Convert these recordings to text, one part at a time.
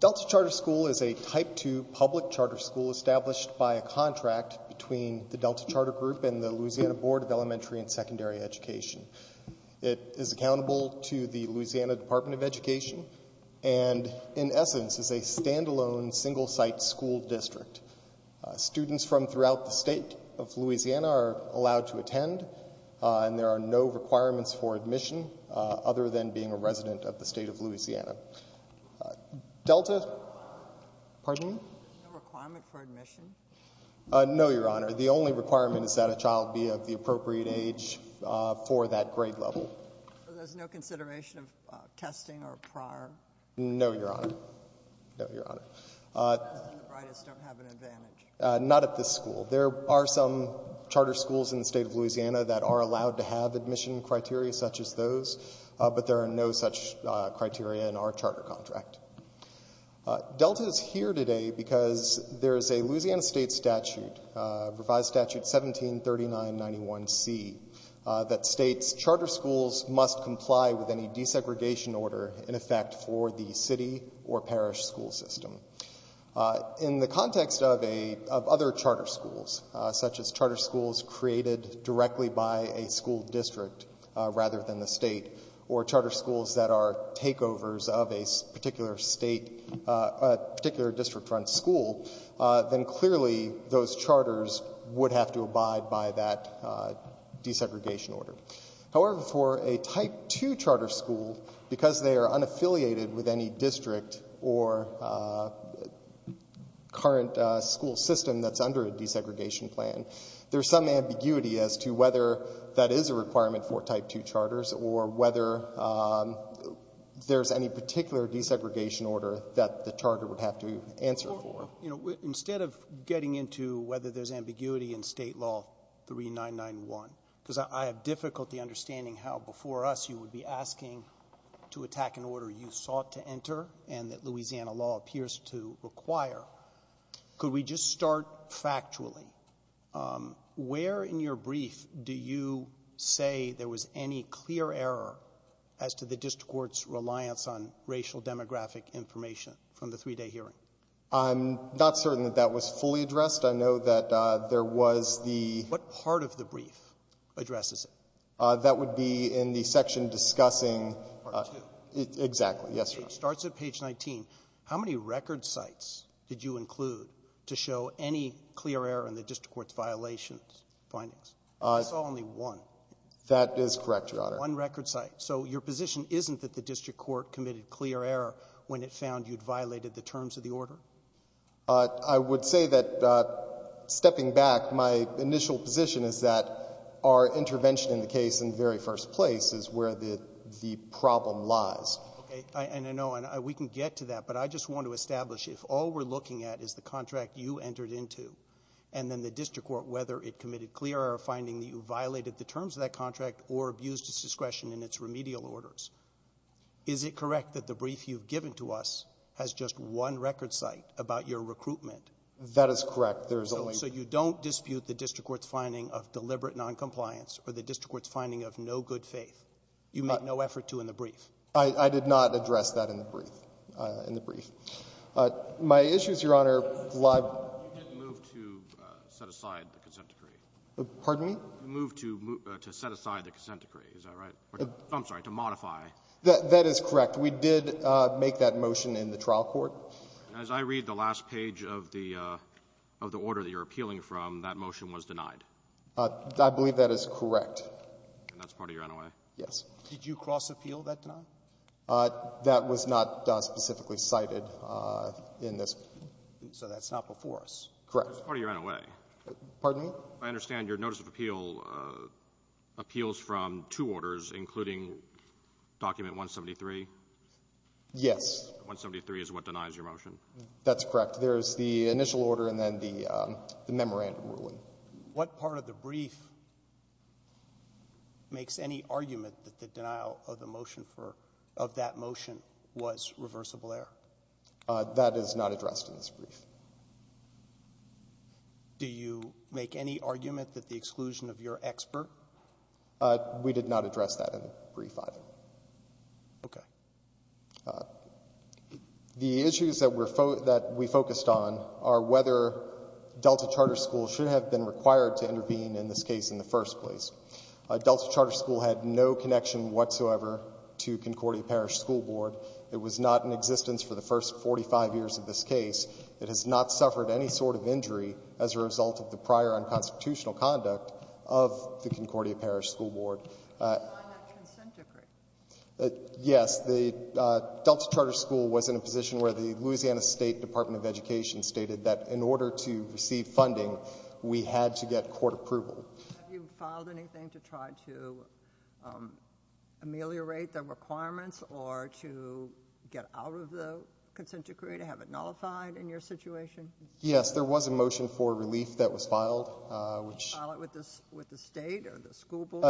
Delta Charter School is a type 2 public charter school established by a contract between the Delta Charter Group and the Louisiana Board of Elementary and Secondary Education. It is accountable to the Louisiana Department of Education and in essence is a standalone single-site school district. Students from throughout the state of Louisiana are allowed to attend and there are no requirements for admission other than being a resident of the state of Louisiana. Delta? Pardon me? No, Your Honor. The only requirement is that a child be of the appropriate age for that grade level. There's no consideration of testing or prior? No, Your Honor. Not at this school. There are some charter schools in the state of Louisiana that are allowed to have admission criteria such as those, but there are no such criteria in our charter contract. Delta is here today because there is a Louisiana state statute, Revised Statute 173991C, that states charter schools must comply with any desegregation order in effect for the city or parish school system. In the context of other charter schools, such as charter schools created directly by a school district rather than the state or charter schools that are takeovers of a particular state, a particular district-run school, then clearly those charters would have to abide by that desegregation order. However, for a Type 2 charter school, because they are unaffiliated with any district or current school system that's under a desegregation plan, there's some ambiguity as to whether that is a requirement for Type 2 charters or whether there's any particular desegregation order that the charter would have to answer for. Instead of getting into whether there's ambiguity in State Law 3991, because I have difficulty understanding how before us you would be asking to attack an order you sought to enter and that Louisiana law appears to require, could we just start factually? Where in your brief do you say there was any clear error as to the district court's reliance on racial demographic information from the 3-day hearing? I'm not certain that that was fully addressed. I know that there was the — What part of the brief addresses it? That would be in the section discussing — Part 2. Exactly. Yes, Your Honor. It starts at page 19. How many record sites did you include to show any clear error in the district court's violations findings? I saw only one. That is correct, Your Honor. One record site. So your position isn't that the district court committed clear error when it found you'd violated the terms of the order? I would say that, stepping back, my initial position is that our intervention in the case in the very first place is where the problem lies. Okay. And I know we can get to that, but I just want to establish, if all we're looking at is the contract you entered into and then the district court, whether it committed clear error finding that you violated the terms of that contract or abused its discretion in its remedial orders, is it correct that the brief you've given to us has just one record site about your recruitment? That is correct. There is only — So you don't dispute the district court's finding of deliberate noncompliance or the district court's finding of no good faith? You made no effort to in the brief? I did not address that in the brief. In the brief. My issue is, Your Honor, why — You didn't move to set aside the consent decree. Pardon me? You moved to set aside the consent decree. Is that right? I'm sorry, to modify. That is correct. We did make that motion in the trial court. As I read the last page of the order that you're appealing from, that motion was denied. I believe that is correct. And that's part of your NOA? Yes. Did you cross-appeal that tonight? That was not specifically cited in this. So that's not before us? Correct. That's part of your NOA? Pardon me? I understand your notice of appeal appeals from two orders, including document 173? Yes. 173 is what denies your motion? That's correct. There's the initial order and then the memorandum ruling. What part of the brief makes any argument that the denial of the motion for — of that motion was reversible error? That is not addressed in this brief. Do you make any argument that the exclusion of your expert? We did not address that in the brief, either. Okay. The issues that we focused on are whether Delta Charter School should have been required to intervene in this case in the first place. Delta Charter School had no connection whatsoever to Concordia Parish School Board. It was not in existence for the first 45 years of this case. It has not suffered any sort of injury as a result of the prior unconstitutional conduct of the Concordia Parish School Board. Why not consent decree? Yes. The Delta Charter School was in a position where the Louisiana State Department of Education stated that in order to receive funding, we had to get court approval. Have you filed anything to try to ameliorate the requirements or to get out of the consent decree to have it nullified in your situation? Yes. There was a motion for relief that was filed, which — Filed with the state or the school board?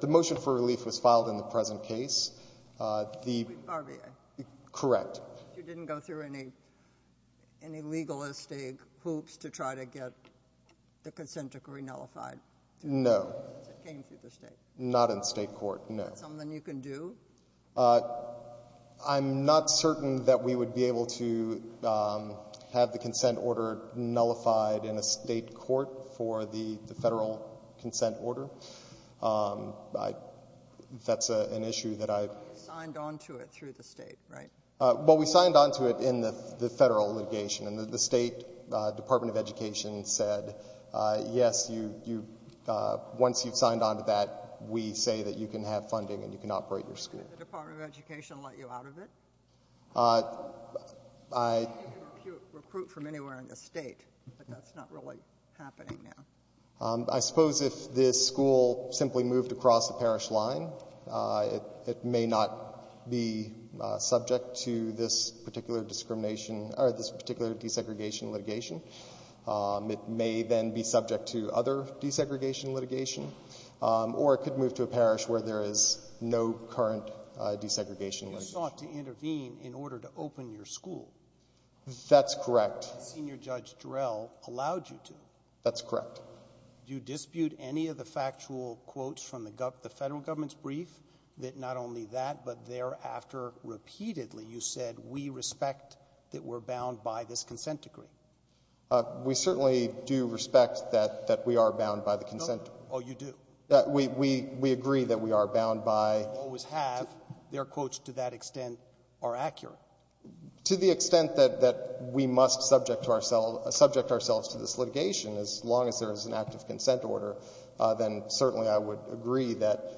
The motion for relief was filed in the present case. The — RBA? Correct. You didn't go through any legalistic hoops to try to get the consent decree nullified? No. It came through the state? Not in state court, no. Is that something you can do? I'm not certain that we would be able to have the consent order nullified in a state court for the federal consent order. That's an issue that I — Signed on to it through the state, right? Well, we signed on to it in the federal litigation. And the state Department of Education said, yes, you — once you've signed on to that, we say that you can have funding and you can operate your school. Did the Department of Education let you out of it? I — You can recruit from anywhere in the state, but that's not really happening now. I suppose if this school simply moved across the parish line, it may not be subject to this particular discrimination — or this particular desegregation litigation. It may then be subject to other desegregation litigation, or it could move to a parish where there is no current desegregation litigation. You sought to intervene in order to open your school. That's correct. Senior Judge Jarrell allowed you to. That's correct. Do you dispute any of the factual quotes from the federal government's brief, that not only that, but thereafter, repeatedly, you said, we respect that we're bound by this consent decree? We certainly do respect that we are bound by the consent decree. Oh, you do? We agree that we are bound by — We always have. Their quotes, to that extent, are accurate. To the extent that we must subject ourselves to this litigation, as long as there is an active consent order, then certainly I would agree that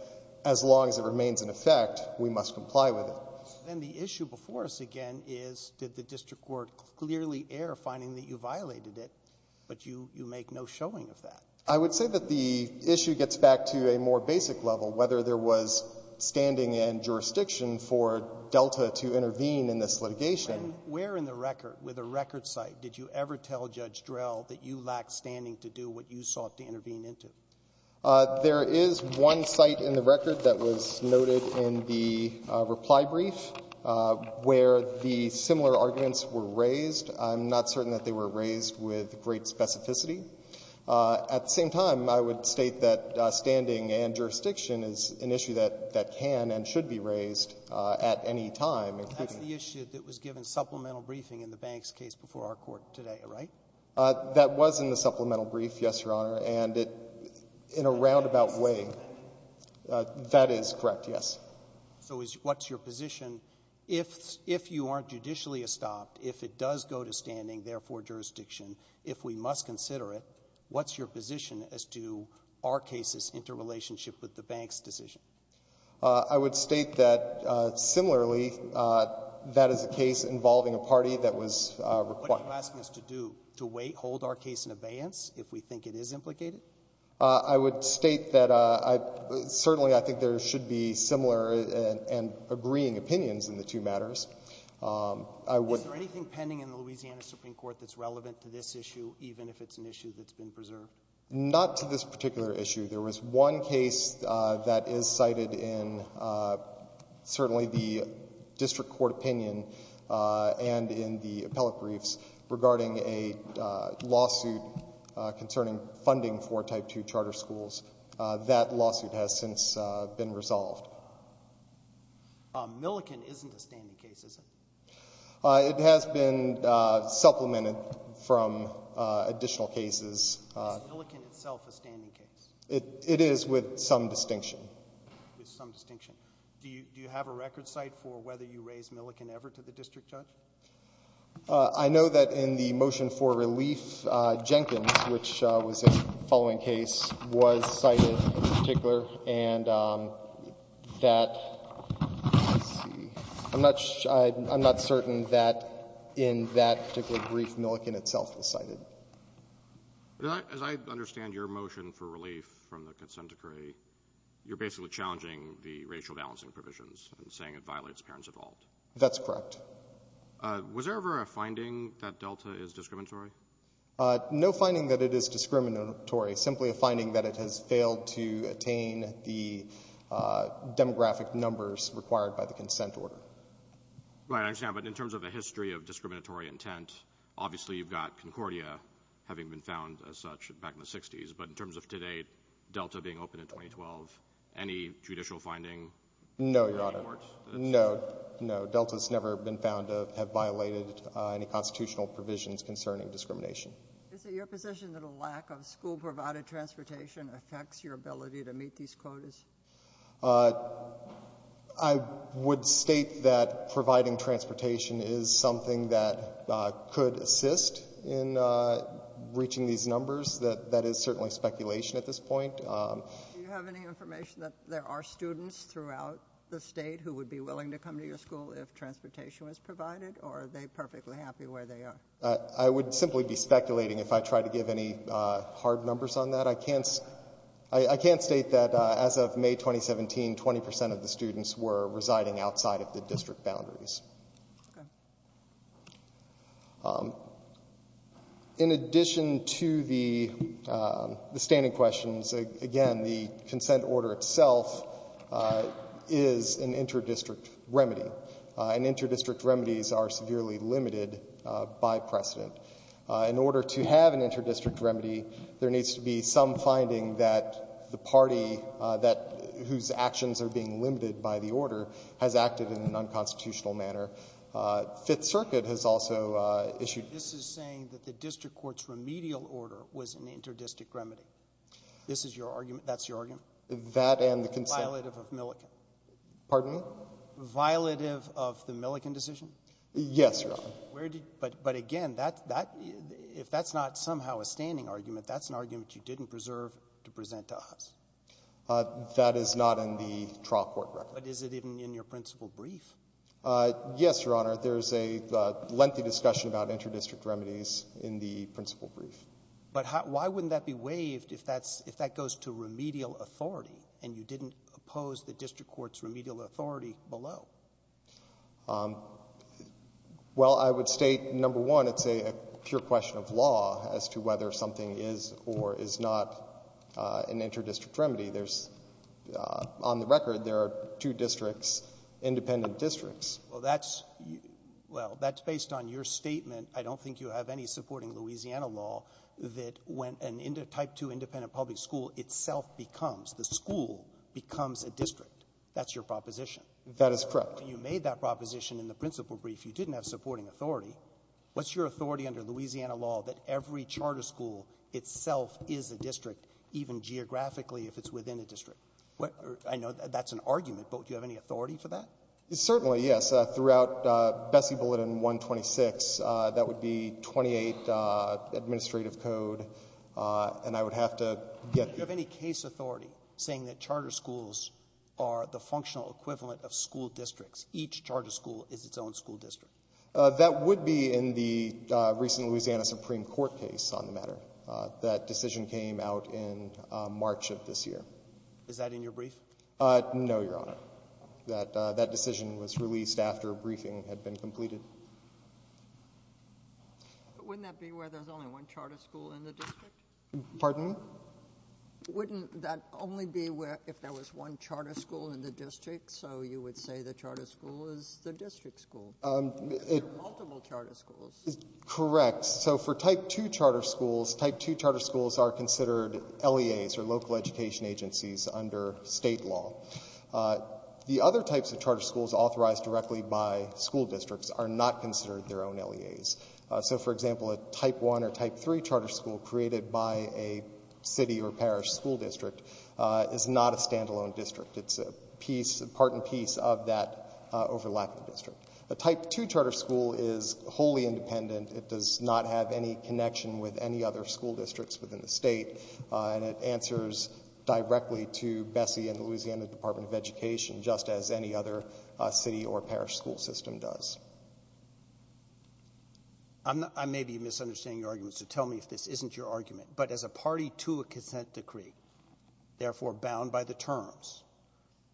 as long as it remains in effect, we must comply with it. Then the issue before us again is, did the district court clearly err finding that you violated it, but you make no showing of that? I would say that the issue gets back to a more basic level, whether there was standing in jurisdiction for Delta to intervene in this litigation. When — where in the record, with a record site, did you ever tell Judge Jarrell that you lacked standing to do what you sought to intervene into? There is one site in the record that was noted in the reply brief where the similar arguments were raised. I'm not certain that they were raised with great specificity. At the same time, I would state that standing and jurisdiction is an issue that can and should be raised at any time, including — That's the issue that was given supplemental briefing in the Banks case before our court today, right? That was in the supplemental brief, yes, Your Honor. And in a roundabout way, that is correct, yes. So what's your position? If you aren't judicially estopped, if it does go to standing, therefore jurisdiction, if we must consider it, what's your position as to our case's interrelationship with the Banks decision? I would state that, similarly, that is a case involving a party that was required What are you asking us to do, to wait, hold our case in abeyance if we think it is implicated? I would state that I — certainly, I think there should be similar and agreeing opinions in the two matters. Is there anything pending in the Louisiana Supreme Court that's relevant to this issue, even if it's an issue that's been preserved? Not to this particular issue. There was one case that is cited in certainly the district court opinion and in the appellate briefs regarding a lawsuit concerning funding for Type 2 charter schools. That lawsuit has since been resolved. Millikin isn't a standing case, is it? It has been supplemented from additional cases. Is Millikin itself a standing case? It is with some distinction. Do you have a record cite for whether you raised Millikin ever to the district judge? I know that in the motion for relief, Jenkins, which was a following case, was cited in particular and that — let's see — I'm not certain that in that particular brief, Millikin itself was cited. As I understand your motion for relief from the consent decree, you're basically challenging the racial balancing provisions and saying it violates parents' evolved. That's correct. Was there ever a finding that Delta is discriminatory? No finding that it is discriminatory. Simply a finding that it has failed to attain the demographic numbers required by the consent order. Right. I understand. But in terms of a history of discriminatory intent, obviously you've got Concordia having been found as such back in the 60s. But in terms of today, Delta being open in 2012, any judicial finding? No, Your Honor. No. No. So Delta has never been found to have violated any constitutional provisions concerning discrimination. Is it your position that a lack of school-provided transportation affects your ability to meet these quotas? I would state that providing transportation is something that could assist in reaching these numbers. That is certainly speculation at this point. Do you have any information that there are students throughout the state who would be happy if transportation was provided? Or are they perfectly happy where they are? I would simply be speculating if I tried to give any hard numbers on that. I can't state that as of May 2017, 20% of the students were residing outside of the district boundaries. Okay. In addition to the standing questions, again, the consent order itself is an inter-district remedy. And inter-district remedies are severely limited by precedent. In order to have an inter-district remedy, there needs to be some finding that the party that — whose actions are being limited by the order has acted in an unconstitutional manner. Fifth Circuit has also issued — This is saying that the district court's remedial order was an inter-district remedy. This is your argument? That's your argument? That and the consent — Violative of Milliken. Pardon me? Violative of the Milliken decision? Yes, Your Honor. Where did — but again, that — if that's not somehow a standing argument, that's an argument you didn't preserve to present to us. That is not in the trial court record. But is it even in your principal brief? Yes, Your Honor. There is a lengthy discussion about inter-district remedies in the principal brief. But how — why wouldn't that be waived if that's — if that goes to remedial authority and you didn't oppose the district court's remedial authority below? Well, I would state, number one, it's a pure question of law as to whether something is or is not an inter-district remedy. There's — on the record, there are two districts, independent districts. Well, that's — well, that's based on your statement. I don't think you have any supporting Louisiana law that when a type 2 independent public school itself becomes — the school becomes a district. That's your proposition. That is correct. You made that proposition in the principal brief. You didn't have supporting authority. What's your authority under Louisiana law that every charter school itself is a district, even geographically, if it's within a district? I know that's an argument, but do you have any authority for that? Certainly, yes. Throughout Bessie Bulletin 126, that would be 28 administrative code. And I would have to get — Do you have any case authority saying that charter schools are the functional equivalent of school districts, each charter school is its own school district? That would be in the recent Louisiana Supreme Court case on the matter. That decision came out in March of this year. Is that in your brief? No, Your Honor. That decision was released after a briefing had been completed. Wouldn't that be where there's only one charter school in the district? Pardon me? Wouldn't that only be where — if there was one charter school in the district, so you would say the charter school is the district school? There are multiple charter schools. Correct. So for type 2 charter schools, type 2 charter schools are considered LEAs, or local education agencies, under state law. The other types of charter schools authorized directly by school districts are not considered their own LEAs. So, for example, a type 1 or type 3 charter school created by a city or parish school district is not a stand-alone district. It's a piece, part and piece of that overlapping district. A type 2 charter school is wholly independent. It does not have any connection with any other school districts within the state, and it answers directly to BSEE and the Louisiana Department of Education, just as any other city or parish school system does. I may be misunderstanding your argument, so tell me if this isn't your argument. But as a party to a consent decree, therefore bound by the terms,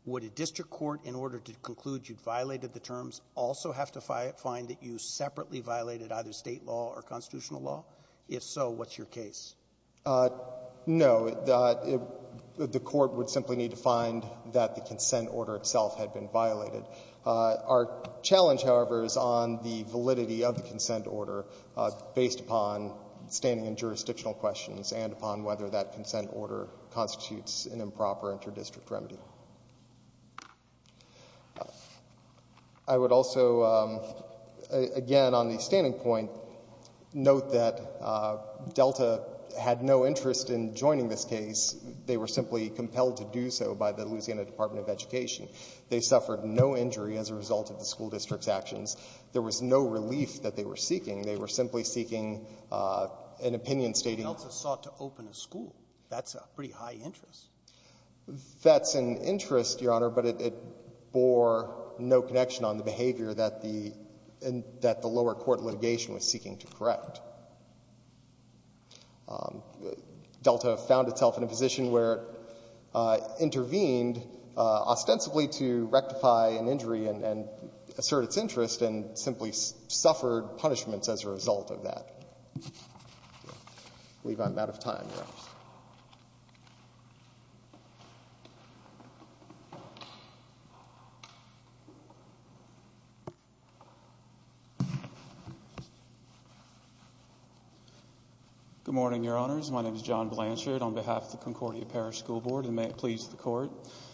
would a district court, in order to conclude you violated the terms, also have to find that you separately violated either state law or constitutional law? If so, what's your case? No. The court would simply need to find that the consent order itself had been violated. Our challenge, however, is on the validity of the consent order based upon standing and jurisdictional questions and upon whether that consent order constitutes an improper inter-district remedy. I would also, again, on the standing point, note that Delta had no interest in joining this case. They were simply compelled to do so by the Louisiana Department of Education. They suffered no injury as a result of the school district's actions. There was no relief that they were seeking. They were simply seeking an opinion stating... Delta sought to open a school. That's a pretty high interest. That's an interest, Your Honor, but it bore no connection on the behavior that the lower court litigation was seeking to correct. Delta found itself in a position where it intervened ostensibly to rectify an injury and assert its interest and simply suffered punishments as a result of that. I believe I'm out of time, Your Honor. Thank you. Good morning, Your Honors. My name is John Blanchard on behalf of the Concordia Parish School Board, and may it please the Court.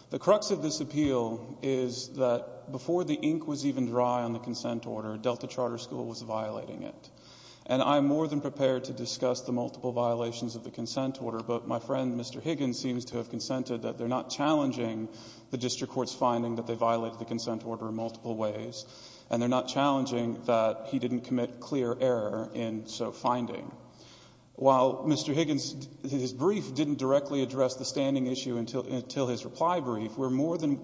The crux of this appeal is that before the ink was even dry on the consent order, Delta Charter School was violating it, and I'm more than prepared to discuss the multiple violations of the consent order, but my friend, Mr. Higgins, seems to have consented that they're not challenging the district court's finding that they violated the consent order in multiple ways, and they're not challenging that he didn't commit clear error in so finding. While Mr. Higgins' brief didn't directly address the standing issue until his reply brief, we're more than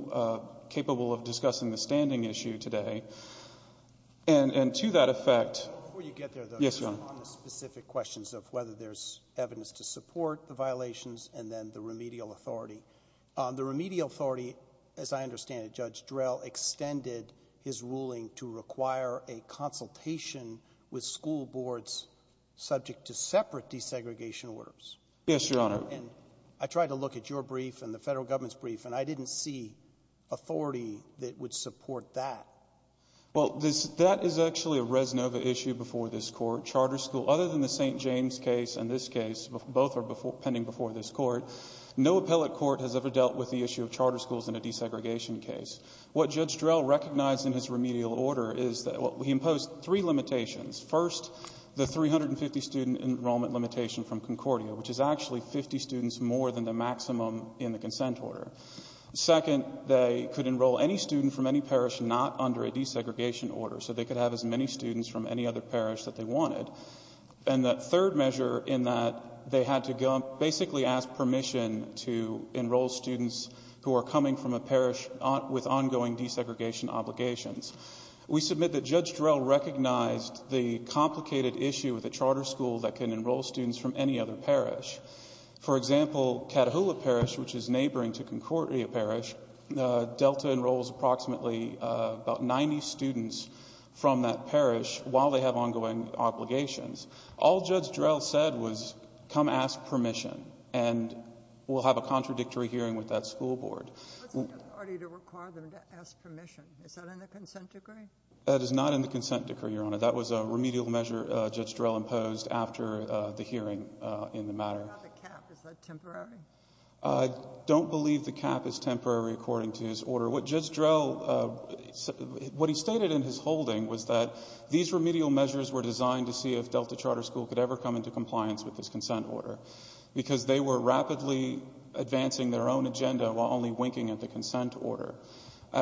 capable of discussing the standing issue today, and to that effect... Let me get there, though. Yes, Your Honor. On the specific questions of whether there's evidence to support the violations and then the remedial authority. The remedial authority, as I understand it, Judge Drell, extended his ruling to require a consultation with school boards subject to separate desegregation orders. Yes, Your Honor. And I tried to look at your brief and the federal government's brief, and I didn't see authority that would support that. Well, that is actually a res nova issue before this court. Charter school, other than the St. James case and this case, both are pending before this court. No appellate court has ever dealt with the issue of charter schools in a desegregation case. What Judge Drell recognized in his remedial order is that he imposed three limitations. First, the 350-student enrollment limitation from Concordia, which is actually 50 students more than the maximum in the consent order. Second, they could enroll any student from any parish not under a desegregation order, so they could have as many students from any other parish that they wanted. And the third measure in that they had to basically ask permission to enroll students who are coming from a parish with ongoing desegregation obligations. We submit that Judge Drell recognized the complicated issue with a charter school that can enroll students from any other parish. For example, Catahoula Parish, which is neighboring to Concordia Parish, Delta enrolls approximately about 90 students from that parish while they have ongoing obligations. All Judge Drell said was, come ask permission, and we'll have a contradictory hearing with that school board. What's the authority to require them to ask permission? Is that in the consent decree? That is not in the consent decree, Your Honor. That was a remedial measure Judge Drell imposed after the hearing in the matter. Is that a cap? Is that temporary? I don't believe the cap is temporary according to his order. What Judge Drell, what he stated in his holding was that these remedial measures were designed to see if Delta Charter School could ever come into compliance with this consent order because they were rapidly advancing their own agenda while only winking at the consent order. Do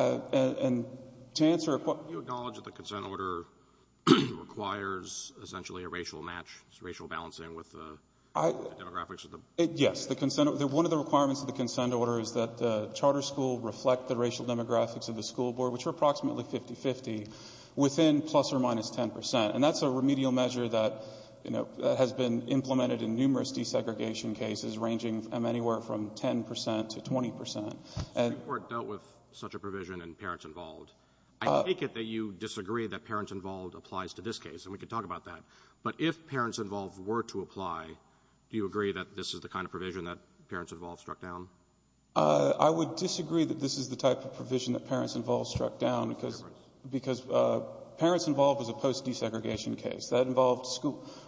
you acknowledge that the consent order requires essentially a racial match, racial balancing with the demographics? Yes. One of the requirements of the consent order is that the charter school reflect the racial demographics of the school board, which are approximately 50-50, within plus or minus 10 percent. And that's a remedial measure that has been implemented in numerous desegregation cases ranging anywhere from 10 percent to 20 percent. The Supreme Court dealt with such a provision in Parents Involved. I take it that you disagree that Parents Involved applies to this case, and we could talk about that. But if Parents Involved were to apply, do you agree that this is the kind of provision that Parents Involved struck down? I would disagree that this is the type of provision that Parents Involved struck down because Parents Involved was a post-desegregation case. That involved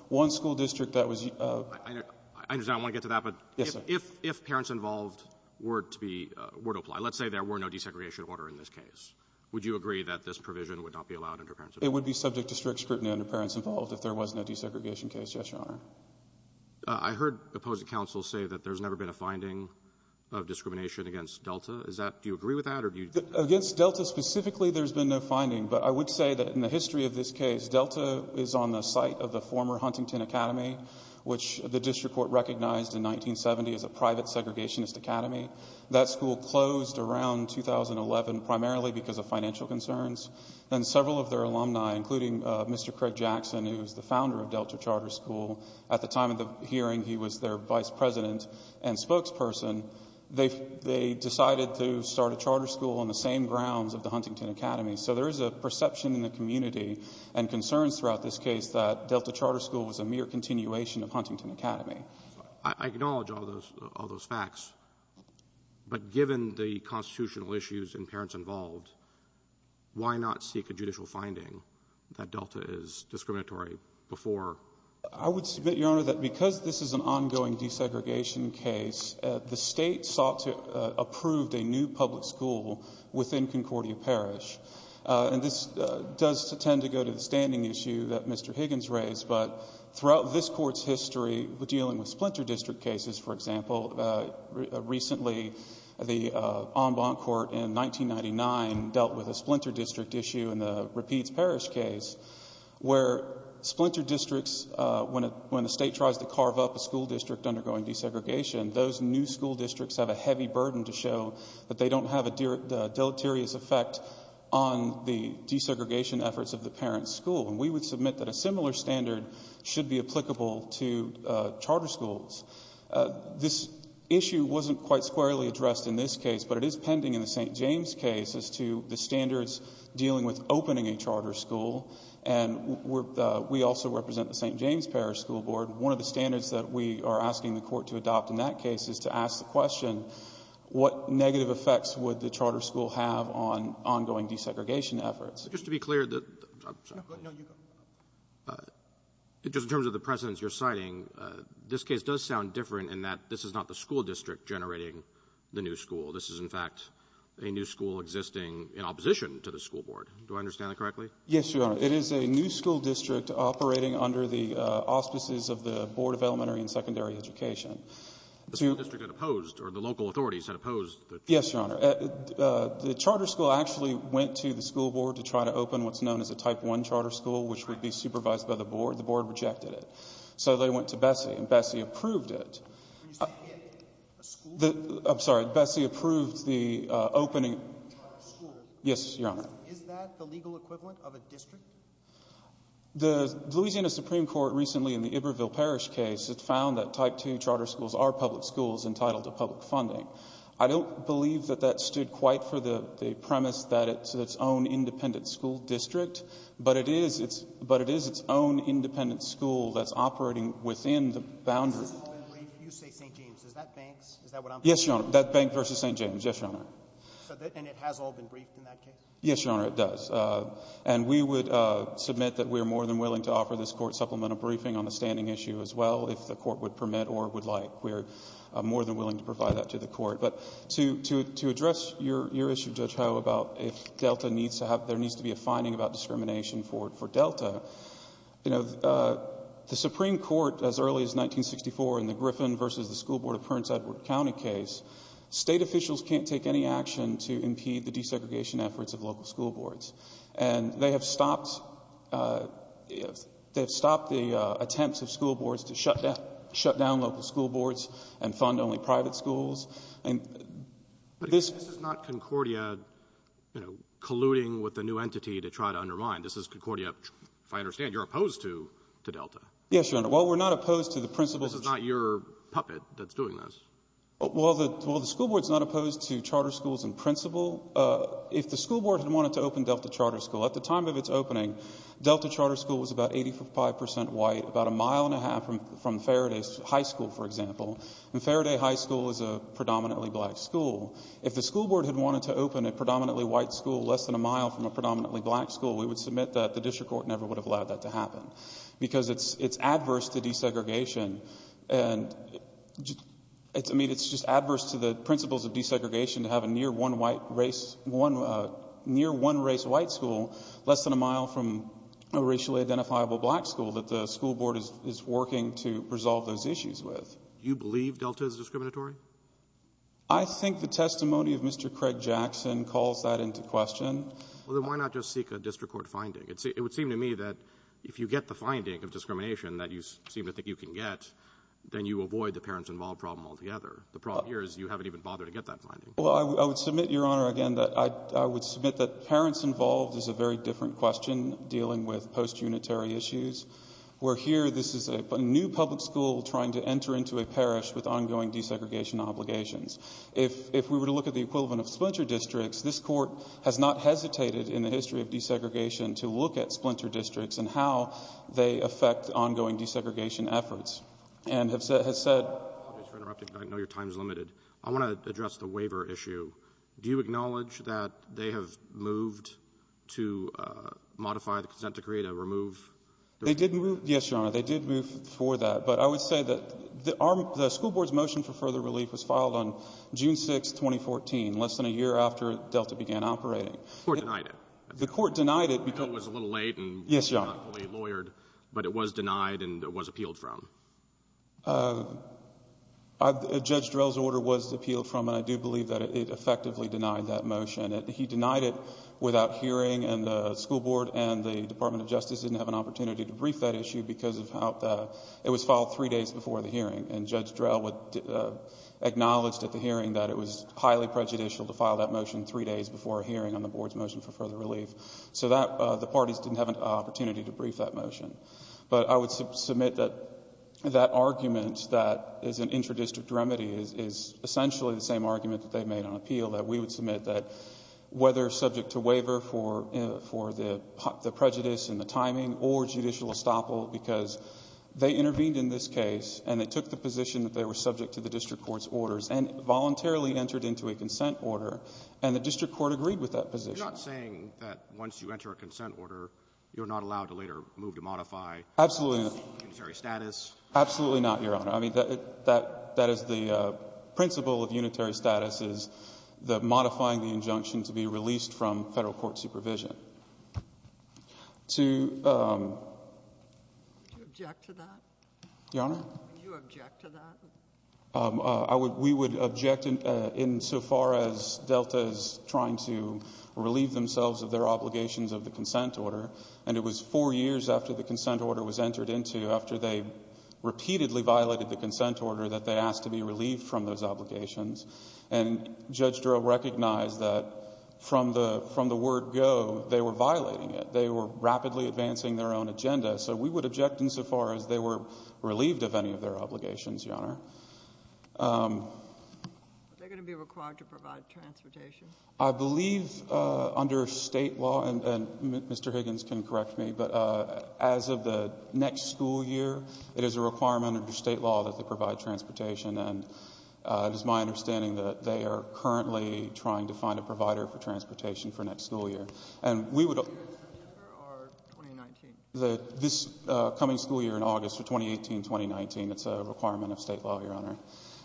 one school district that was your ---- I understand. I want to get to that. Yes, sir. If Parents Involved were to be ---- were to apply, let's say there were no desegregation order in this case, would you agree that this provision would not be allowed under Parents Involved? It would be subject to strict scrutiny under Parents Involved if there was no desegregation case, yes, Your Honor. I heard opposing counsel say that there's never been a finding of discrimination against Delta. Is that ---- do you agree with that, or do you ---- Against Delta specifically, there's been no finding. But I would say that in the history of this case, Delta is on the site of the former Huntington Academy, which the district court recognized in 1970 as a private segregationist academy. That school closed around 2011 primarily because of financial concerns. And several of their alumni, including Mr. Craig Jackson, who was the founder of Delta Charter School, at the time of the hearing he was their vice president and spokesperson, they decided to start a charter school on the same grounds of the Huntington Academy. So there is a perception in the community and concerns throughout this case that Delta is discriminatory. I acknowledge all those facts. But given the constitutional issues in Parents Involved, why not seek a judicial finding that Delta is discriminatory before ---- I would submit, Your Honor, that because this is an ongoing desegregation case, the State sought to approve a new public school within Concordia Parish. And this does tend to go to the standing issue that Mr. Higgins raised, but throughout this Court's history, dealing with splinter district cases, for example, recently the en banc court in 1999 dealt with a splinter district issue in the Rapides Parish case, where splinter districts, when the State tries to carve up a school district undergoing desegregation, those new school districts have a heavy burden to show that they don't have a deleterious effect on the desegregation efforts of the parent school. And we would submit that a similar standard should be applicable to charter schools. This issue wasn't quite squarely addressed in this case, but it is pending in the St. James case as to the standards dealing with opening a charter school. And we also represent the St. James Parish School Board. One of the standards that we are asking the Court to adopt in that case is to ask the question, what negative effects would the charter school have on ongoing desegregation efforts? Just to be clear, just in terms of the precedents you're citing, this case does sound different in that this is not the school district generating the new school. This is, in fact, a new school existing in opposition to the school board. Do I understand that correctly? Yes, Your Honor. It is a new school district operating under the auspices of the Board of Elementary and Secondary Education. The school district had opposed, or the local authorities had opposed the charter school. So, when they went to the Board to try to open what's known as a Type I charter school, which would be supervised by the Board, the Board rejected it. So, they went to Bessie and Bessie approved it. When you say it, a school district? I'm sorry, Bessie approved the opening. A charter school? Yes, Your Honor. Is that the legal equivalent of a district? The Louisiana Supreme Court recently, in the Iberville Parish case, had found that Type II charter schools are public schools entitled to public funding. I don't believe that that stood quite for the premise that it's its own independent school district, but it is its own independent school that's operating within the boundary. You say St. James. Is that Banks? Is that what I'm thinking? Yes, Your Honor. That's Banks v. St. James. Yes, Your Honor. And it has all been briefed in that case? Yes, Your Honor, it does. And we would submit that we are more than willing to offer this Court supplemental briefing on the standing issue as well, if the Court would To address your issue, Judge Howe, about if there needs to be a finding about discrimination for Delta, the Supreme Court, as early as 1964 in the Griffin v. The School Board of Prince Edward County case, state officials can't take any action to impede the desegregation efforts of local school boards, and they have stopped the attempts of school boards to shut down local school boards and fund only private schools. But this is not Concordia, you know, colluding with a new entity to try to undermine. This is Concordia, if I understand, you're opposed to Delta. Yes, Your Honor. Well, we're not opposed to the principals This is not your puppet that's doing this. Well, the school board's not opposed to charter schools and principal. If the school board had wanted to open Delta Charter School, at the time of its opening, Delta Charter School was about 85 percent white, about a mile and a half from Faraday High School, for example. And Faraday High School is a predominantly black school. If the school board had wanted to open a predominantly white school less than a mile from a predominantly black school, we would submit that the district court never would have allowed that to happen. Because it's adverse to desegregation, and, I mean, it's just adverse to the principles of desegregation to have a near one race white school less than a mile from a racially identifiable black school that the school board is working to resolve those issues with. Do you believe Delta is discriminatory? I think the testimony of Mr. Craig Jackson calls that into question. Well, then why not just seek a district court finding? It would seem to me that if you get the finding of discrimination that you seem to think you can get, then you avoid the parents involved problem altogether. The problem here is you haven't even bothered to get that finding. Well, I would submit, Your Honor, again, that I would submit that parents involved is a very different question dealing with post-unitary issues, where here this is a new public school trying to enter into a parish with ongoing desegregation obligations. If we were to look at the equivalent of splinter districts, this court has not hesitated in the history of desegregation to look at splinter districts and how they affect ongoing desegregation efforts and has said— I apologize for interrupting, but I know your time is limited. I want to address the waiver issue. Do you acknowledge that they have moved to modify the consent decree to remove— They did move—yes, Your Honor, they did move for that. But I would say that the school board's motion for further relief was filed on June 6, 2014, less than a year after Delta began operating. The court denied it. The court denied it because— It was a little late and not fully lawyered, but it was denied and it was appealed from. Judge Drell's order was appealed from, and I do believe that it effectively denied that motion. He denied it without hearing, and the school board and the Department of Justice didn't have an opportunity to brief that issue because it was filed three days before the hearing, and Judge Drell acknowledged at the hearing that it was highly prejudicial to file that motion three days before a hearing on the board's motion for further relief. So the parties didn't have an opportunity to brief that motion. But I would submit that that argument that is an intradistrict remedy is essentially the same argument that they made on appeal, that we would submit that whether subject to waiver for the prejudice and the timing or judicial estoppel because they intervened in this case and they took the position that they were subject to the district court's orders and voluntarily entered into a consent order, and the district court agreed with that position. You're not saying that once you enter a consent order, you're not allowed to later move to modify unitary status? Absolutely not, Your Honor. I mean, that is the principle of unitary status, is modifying the injunction to be released from Federal court supervision. Would you object to that? Your Honor? Would you object to that? We would object insofar as Delta is trying to relieve themselves of their obligations of the consent order. And it was four years after the consent order was entered into, after they repeatedly violated the consent order, that they asked to be relieved from those obligations. And Judge Durrell recognized that from the word go, they were violating it. They were rapidly advancing their own agenda. So we would object insofar as they were relieved of any of their obligations, Your Honor. Are they going to be required to provide transportation? I believe under State law, and Mr. Higgins can correct me, but as of the next school year, it is a requirement under State law that they provide transportation. And it is my understanding that they are currently trying to find a provider for transportation for next school year. And we would— Are you in September or 2019? This coming school year in August for 2018-2019, it's a requirement of State law, Your Honor.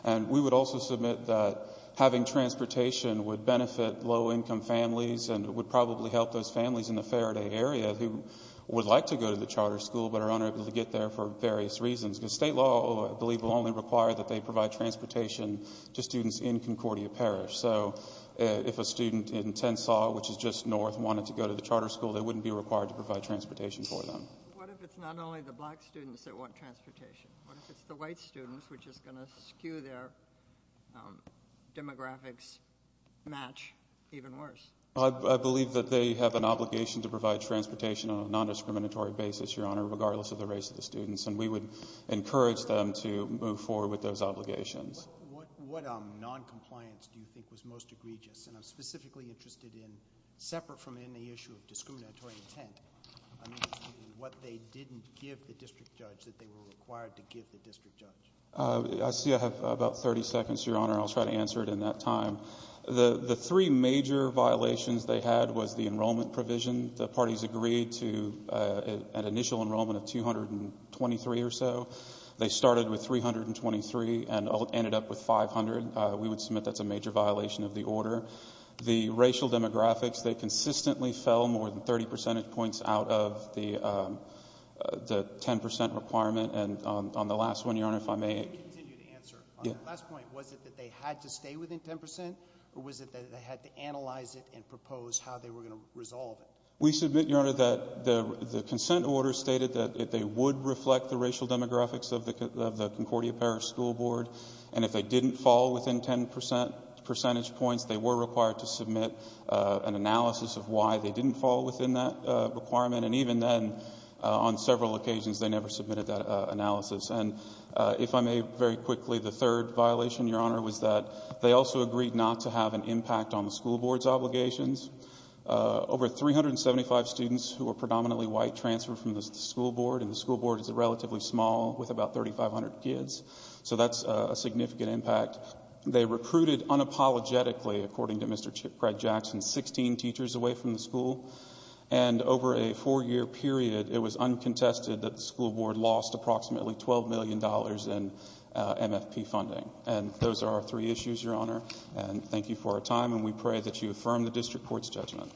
And we would also submit that having transportation would benefit low-income families and would probably help those families in the Faraday area who would like to go to the charter school but are unable to get there for various reasons. Because State law, I believe, will only require that they provide transportation to students in Concordia Parish. So if a student in Tensaw, which is just north, wanted to go to the charter school, they wouldn't be required to provide transportation for them. What if it's not only the black students that want transportation? What if it's the white students, which is going to skew their demographics match even worse? I believe that they have an obligation to provide transportation on a non-discriminatory basis, Your Honor, regardless of the race of the students. And we would encourage them to move forward with those obligations. What noncompliance do you think was most egregious? And I'm specifically interested in, separate from any issue of discriminatory intent, what they didn't give the district judge that they were required to give the district judge. I see I have about 30 seconds, Your Honor, and I'll try to answer it in that time. The three major violations they had was the enrollment provision. The parties agreed to an initial enrollment of 223 or so. They started with 323 and ended up with 500. We would submit that's a major violation of the order. The racial demographics, they consistently fell more than 30 percentage points out of the 10% requirement. And on the last one, Your Honor, if I may. You can continue to answer. On the last point, was it that they had to stay within 10% or was it that they had to analyze it and propose how they were going to resolve it? We submit, Your Honor, that the consent order stated that they would reflect the racial demographics of the Concordia Parish School Board. And if they didn't fall within 10 percentage points, they were required to submit an analysis of why they didn't fall within that requirement. And even then, on several occasions, they never submitted that analysis. And if I may very quickly, the third violation, Your Honor, was that they also agreed not to have an impact on the school board's obligations. Over 375 students who were predominantly white transferred from the school board. And the school board is relatively small with about 3,500 kids. So that's a significant impact. They recruited unapologetically, according to Mr. Fred Jackson, 16 teachers away from the school. And over a four-year period, it was uncontested that the school board lost approximately $12 million in MFP funding. And those are our three issues, Your Honor. And thank you for your time, and we pray that you affirm the district court's judgment.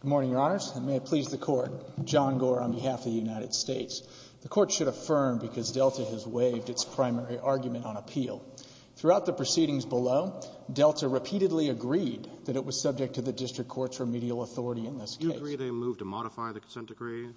Good morning, Your Honors, and may it please the Court. John Gore on behalf of the United States. The Court should affirm because Delta has waived its primary argument on appeal. Throughout the proceedings below, Delta repeatedly agreed that it was subject to the district court's remedial authority in this case. Do you agree they moved to modify the consent decree?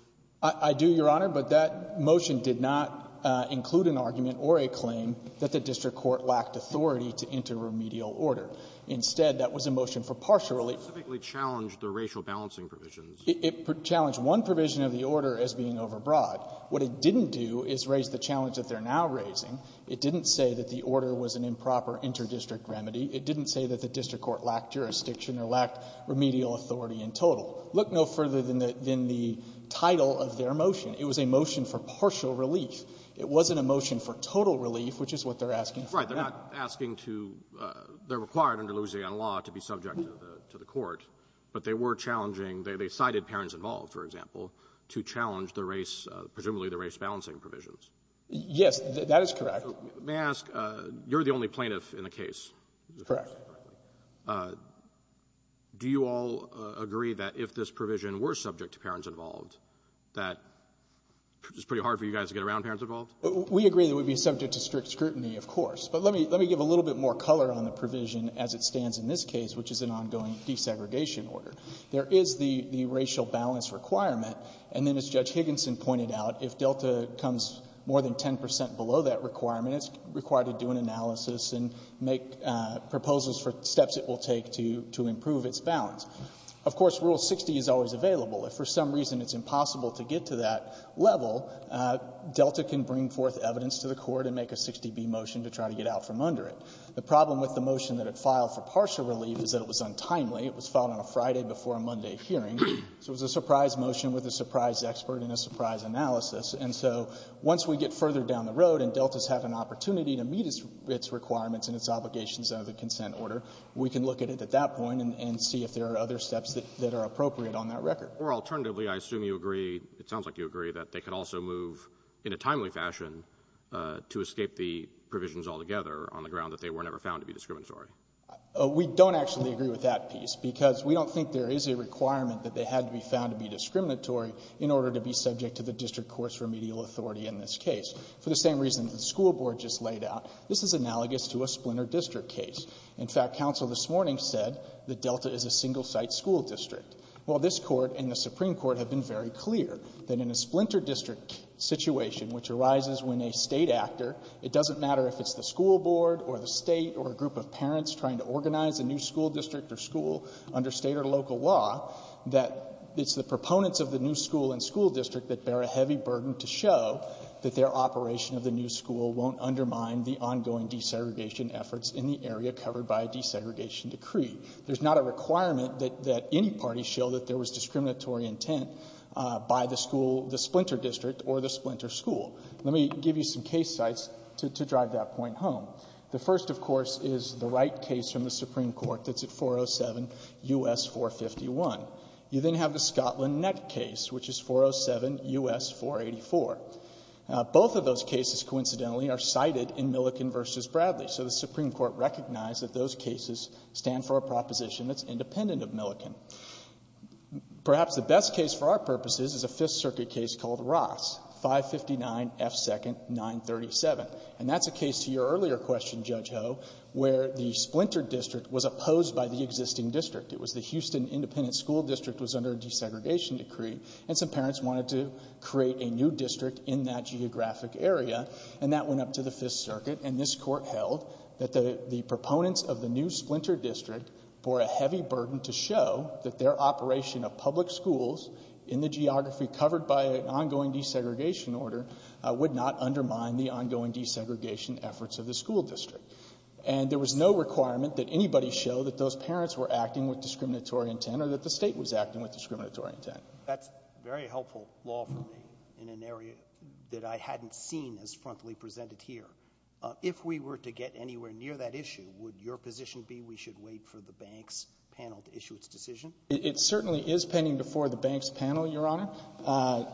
I do, Your Honor. But that motion did not include an argument or a claim that the district court lacked authority to enter remedial order. Instead, that was a motion for partial relief. It specifically challenged the racial balancing provisions. It challenged one provision of the order as being overbroad. What it didn't do is raise the challenge that they're now raising. It didn't say that the order was an improper interdistrict remedy. It didn't say that the district court lacked jurisdiction or lacked remedial authority in total. Look no further than the title of their motion. It was a motion for partial relief. It wasn't a motion for total relief, which is what they're asking for. Right. They're not asking to they're required under Louisiana law to be subject to the court, but they were challenging, they cited parents involved, for example, to challenge the race, presumably the race balancing provisions. Yes. That is correct. May I ask, you're the only plaintiff in the case. Correct. Do you all agree that if this provision were subject to parents involved, that it's pretty hard for you guys to get around parents involved? We agree that it would be subject to strict scrutiny, of course. But let me give a little bit more color on the provision as it stands in this case, which is an ongoing desegregation order. There is the racial balance requirement, and then as Judge Higginson pointed out, if Delta comes more than 10 percent below that requirement, it's required to do an analysis and make proposals for steps it will take to improve its balance. Of course, Rule 60 is always available. If for some reason it's impossible to get to that level, Delta can bring forth evidence to the court and make a 60B motion to try to get out from under it. The problem with the motion that it filed for partial relief is that it was untimely. It was filed on a Friday before a Monday hearing. So it was a surprise motion with a surprise expert and a surprise analysis. And so once we get further down the road and Delta has had an opportunity to meet its requirements and its obligations under the consent order, we can look at it at that point and see if there are other steps that are appropriate on that record. Or alternatively, I assume you agree, it sounds like you agree, that they can also move in a timely fashion to escape the provisions altogether on the ground that they were never found to be discriminatory. We don't actually agree with that piece because we don't think there is a requirement that they had to be found to be discriminatory in order to be subject to the district court's remedial authority in this case. For the same reason the school board just laid out, this is analogous to a Splinter District case. In fact, counsel this morning said that Delta is a single-site school district. Well, this Court and the Supreme Court have been very clear that in a Splinter District situation, which arises when a State actor, it doesn't matter if it's the school board or the State or a group of parents trying to organize a new school district or school under State or local law, that it's the proponents of the new school and school district that bear a heavy burden to show that their operation of the new school won't undermine the ongoing desegregation efforts in the area covered by a desegregation decree. There's not a requirement that any party show that there was discriminatory intent by the school, the Splinter District or the Splinter School. Let me give you some case sites to drive that point home. The first, of course, is the Wright case from the Supreme Court that's at 407 U.S. 451. You then have the Scotland Nett case, which is 407 U.S. 484. Both of those cases, coincidentally, are cited in Milliken v. Bradley. So the Supreme Court recognized that those cases stand for a proposition that's independent of Milliken. Perhaps the best case for our purposes is a Fifth Circuit case called Ross, 559 F. 2nd, 937. And that's a case to your earlier question, Judge Ho, where the Splinter District was opposed by the existing district. It was the Houston Independent School District was under a desegregation decree. And some parents wanted to create a new district in that geographic area. And that went up to the Fifth Circuit. And this Court held that the proponents of the new Splinter District bore a heavy burden to show that their operation of public schools in the geography covered by an ongoing desegregation order would not undermine the ongoing desegregation efforts of the school district. And there was no requirement that anybody show that those parents were acting with discriminatory intent or that the State was acting with discriminatory intent. Roberts. That's very helpful law for me in an area that I hadn't seen as frontally presented here. If we were to get anywhere near that issue, would your position be we should wait for the banks panel to issue its decision? It certainly is pending before the banks panel, Your Honor.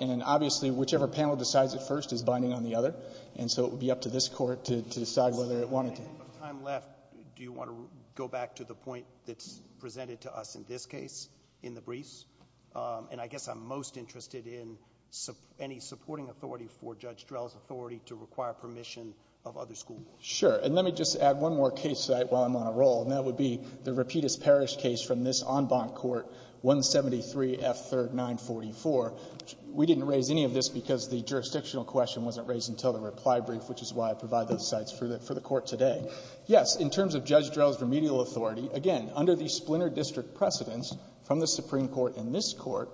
And obviously, whichever panel decides it first is binding on the other. And so it would be up to this Court to decide whether it wanted to. With time left, do you want to go back to the point that's presented to us in this case in the briefs? And I guess I'm most interested in any supporting authority for Judge Drell's authority to require permission of other school boards. Sure. And let me just add one more case while I'm on a roll, and that would be the Rapides Parish case from this en banc court, 173 F. 3rd 944. We didn't raise any of this because the jurisdictional question wasn't raised until the reply brief, which is why I provide those sites for the court today. Yes, in terms of Judge Drell's remedial authority, again, under the Splinter District precedents from the Supreme Court and this Court,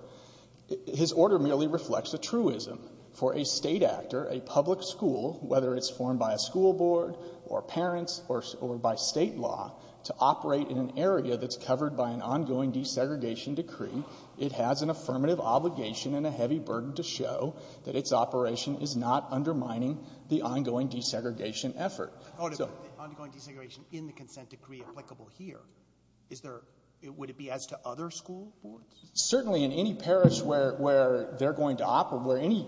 his order merely reflects a truism for a State actor, a public school, whether it's formed by a school board or parents or by State law, to operate in an area that's covered by an ongoing desegregation decree, it has an affirmative obligation and a heavy burden to show that its operation is not undermining the ongoing desegregation effort. So the ongoing desegregation in the consent decree applicable here, is there – would it be as to other school boards? Certainly in any parish where they're going to operate, where any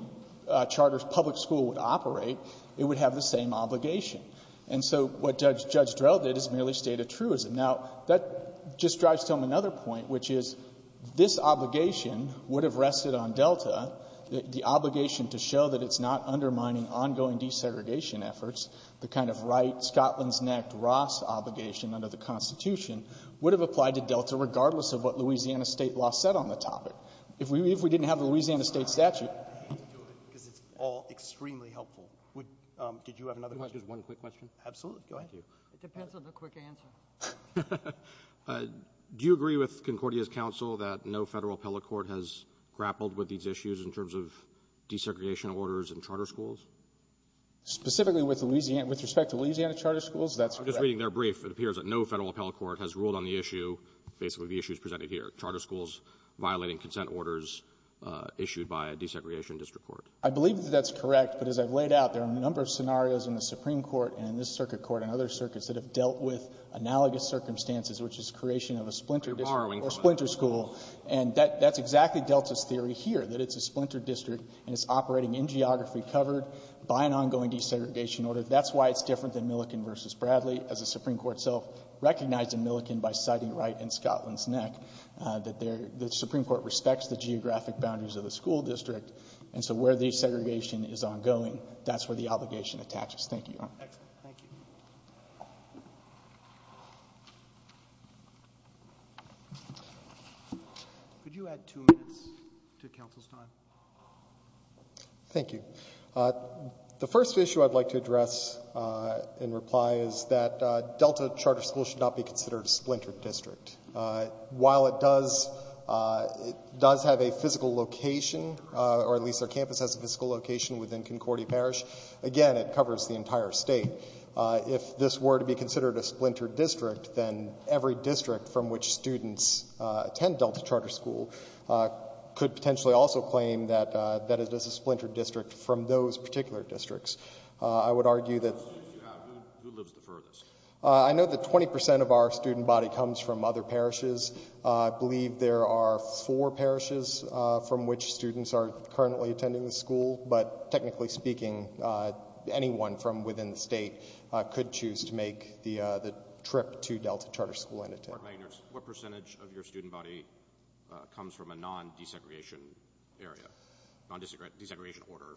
charter public school would operate, it would have the same obligation. And so what Judge Drell did is merely state a truism. Now, that just drives home another point, which is this obligation would have rested on Delta, the obligation to show that it's not undermining ongoing desegregation efforts, the kind of right, Scotland's neck, Ross obligation under the Constitution, would have applied to Delta regardless of what Louisiana State law said on the topic. If we didn't have the Louisiana State statute. Because it's all extremely helpful. Did you have another question? Just one quick question. Absolutely. Go ahead. It depends on the quick answer. Do you agree with Concordia's counsel that no Federal appellate court has grappled with these issues in terms of desegregation orders in charter schools? Specifically with respect to Louisiana charter schools, that's correct. I'm just reading their brief. It appears that no Federal appellate court has ruled on the issue, basically the issues presented here, charter schools violating consent orders issued by a desegregation district court. I believe that that's correct. But as I've laid out, there are a number of scenarios in the Supreme Court and in this circuit court and other circuits that have dealt with analogous circumstances, which is creation of a splinter district or splinter school. You're borrowing from that. And that's exactly Delta's theory here, that it's a splinter district and it's operating in geography covered by an ongoing desegregation order. That's why it's different than Milliken v. Bradley, as the Supreme Court itself recognized in Milliken by citing Wright and Scotland's neck, that the Supreme Court respects the geographic boundaries of the school district. And so where desegregation is ongoing, that's where the obligation attaches. Thank you. Excellent. Thank you. Could you add two minutes to counsel's time? Thank you. The first issue I'd like to address in reply is that Delta Charter School should not be considered a splinter district. While it does have a physical location, or at least our campus has a physical location within Concordia Parish, again, it covers the entire state. If this were to be considered a splinter district, then every district from which students attend Delta Charter School could potentially also claim that it is a splinter district from those particular districts. Who lives the furthest? I know that 20% of our student body comes from other parishes. I believe there are four parishes from which students are currently attending the school, but technically speaking, anyone from within the state could choose to make the trip to Delta Charter School and attend. What percentage of your student body comes from a non-desegregation area?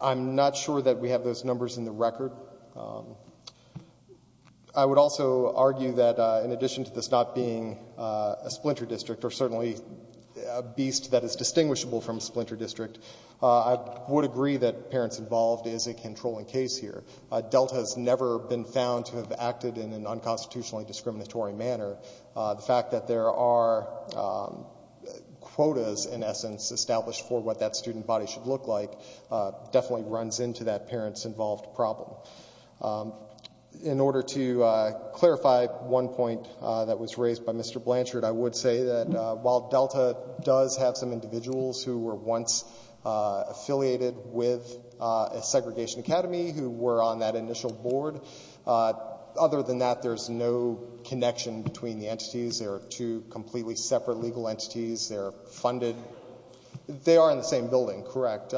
I'm not sure that we have those numbers in the record. I would also argue that in addition to this not being a splinter district, or certainly a beast that is distinguishable from a splinter district, I would agree that parents involved is a controlling case here. Delta has never been found to have acted in an unconstitutionally discriminatory manner. The fact that there are quotas, in essence, established for what that student body should look like definitely runs into that parents involved problem. In order to clarify one point that was raised by Mr. Blanchard, I would say that while Delta does have some individuals who were once affiliated with a segregation academy who were on that initial board, other than that, there's no connection between the entities. They are two completely separate legal entities. They are funded. They are in the same building, correct.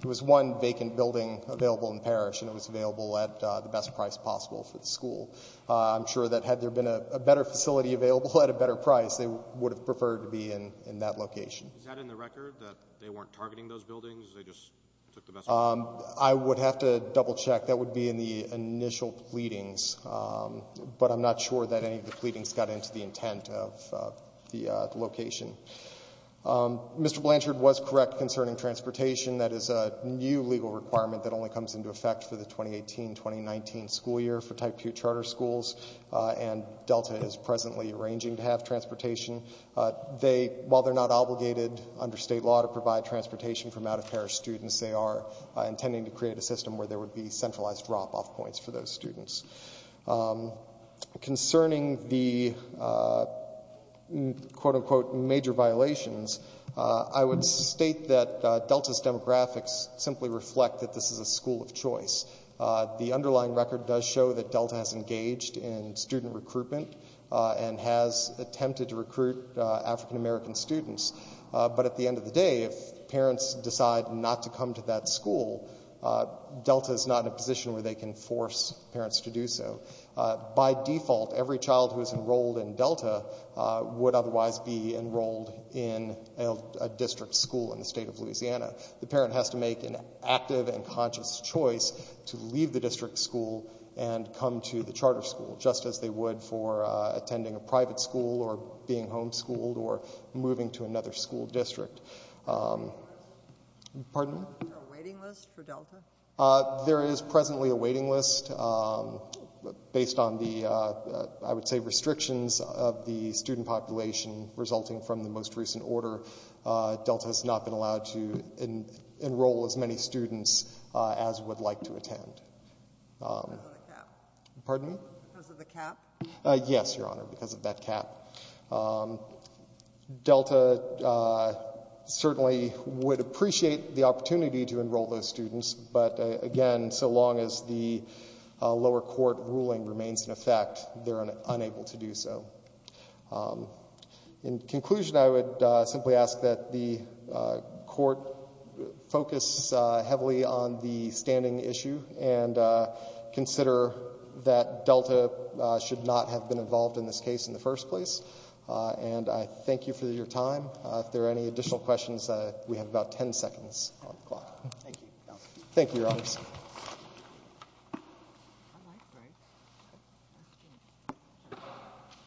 It was one vacant building available in the parish, and it was available at the best price possible for the school. I'm sure that had there been a better facility available at a better price, they would have preferred to be in that location. Is that in the record, that they weren't targeting those buildings? They just took the best price? I would have to double-check. That would be in the initial pleadings, but I'm not sure that any of the pleadings got into the intent of the location. Mr. Blanchard was correct concerning transportation. That is a new legal requirement that only comes into effect for the 2018-2019 school year for type 2 charter schools, and Delta is presently arranging to have transportation. While they're not obligated under state law to provide transportation for out-of-parish students, they are intending to create a system where there would be centralized drop-off points for those students. Concerning the quote-unquote major violations, I would state that Delta's demographics simply reflect that this is a school of choice. The underlying record does show that Delta has engaged in student recruitment and has attempted to recruit African-American students. But at the end of the day, if parents decide not to come to that school, Delta is not in a position where they can force parents to do so. By default, every child who is enrolled in Delta would otherwise be enrolled in a district school in the state of Louisiana. The parent has to make an active and conscious choice to leave the district school and come to the charter school, just as they would for attending a private school or being homeschooled or moving to another school district. Pardon me? Is there a waiting list for Delta? There is presently a waiting list. Based on the, I would say, restrictions of the student population resulting from the most recent order, Delta has not been allowed to enroll as many students as would like to attend. Because of the cap? Pardon me? Because of the cap? Yes, Your Honor, because of that cap. Delta certainly would appreciate the opportunity to enroll those students, but again, so long as the lower court ruling remains in effect, they're unable to do so. In conclusion, I would simply ask that the court focus heavily on the standing issue and consider that Delta should not have been involved in this case in the first place. And I thank you for your time. If there are any additional questions, we have about 10 seconds on the clock. Thank you. Thank you, Your Honors.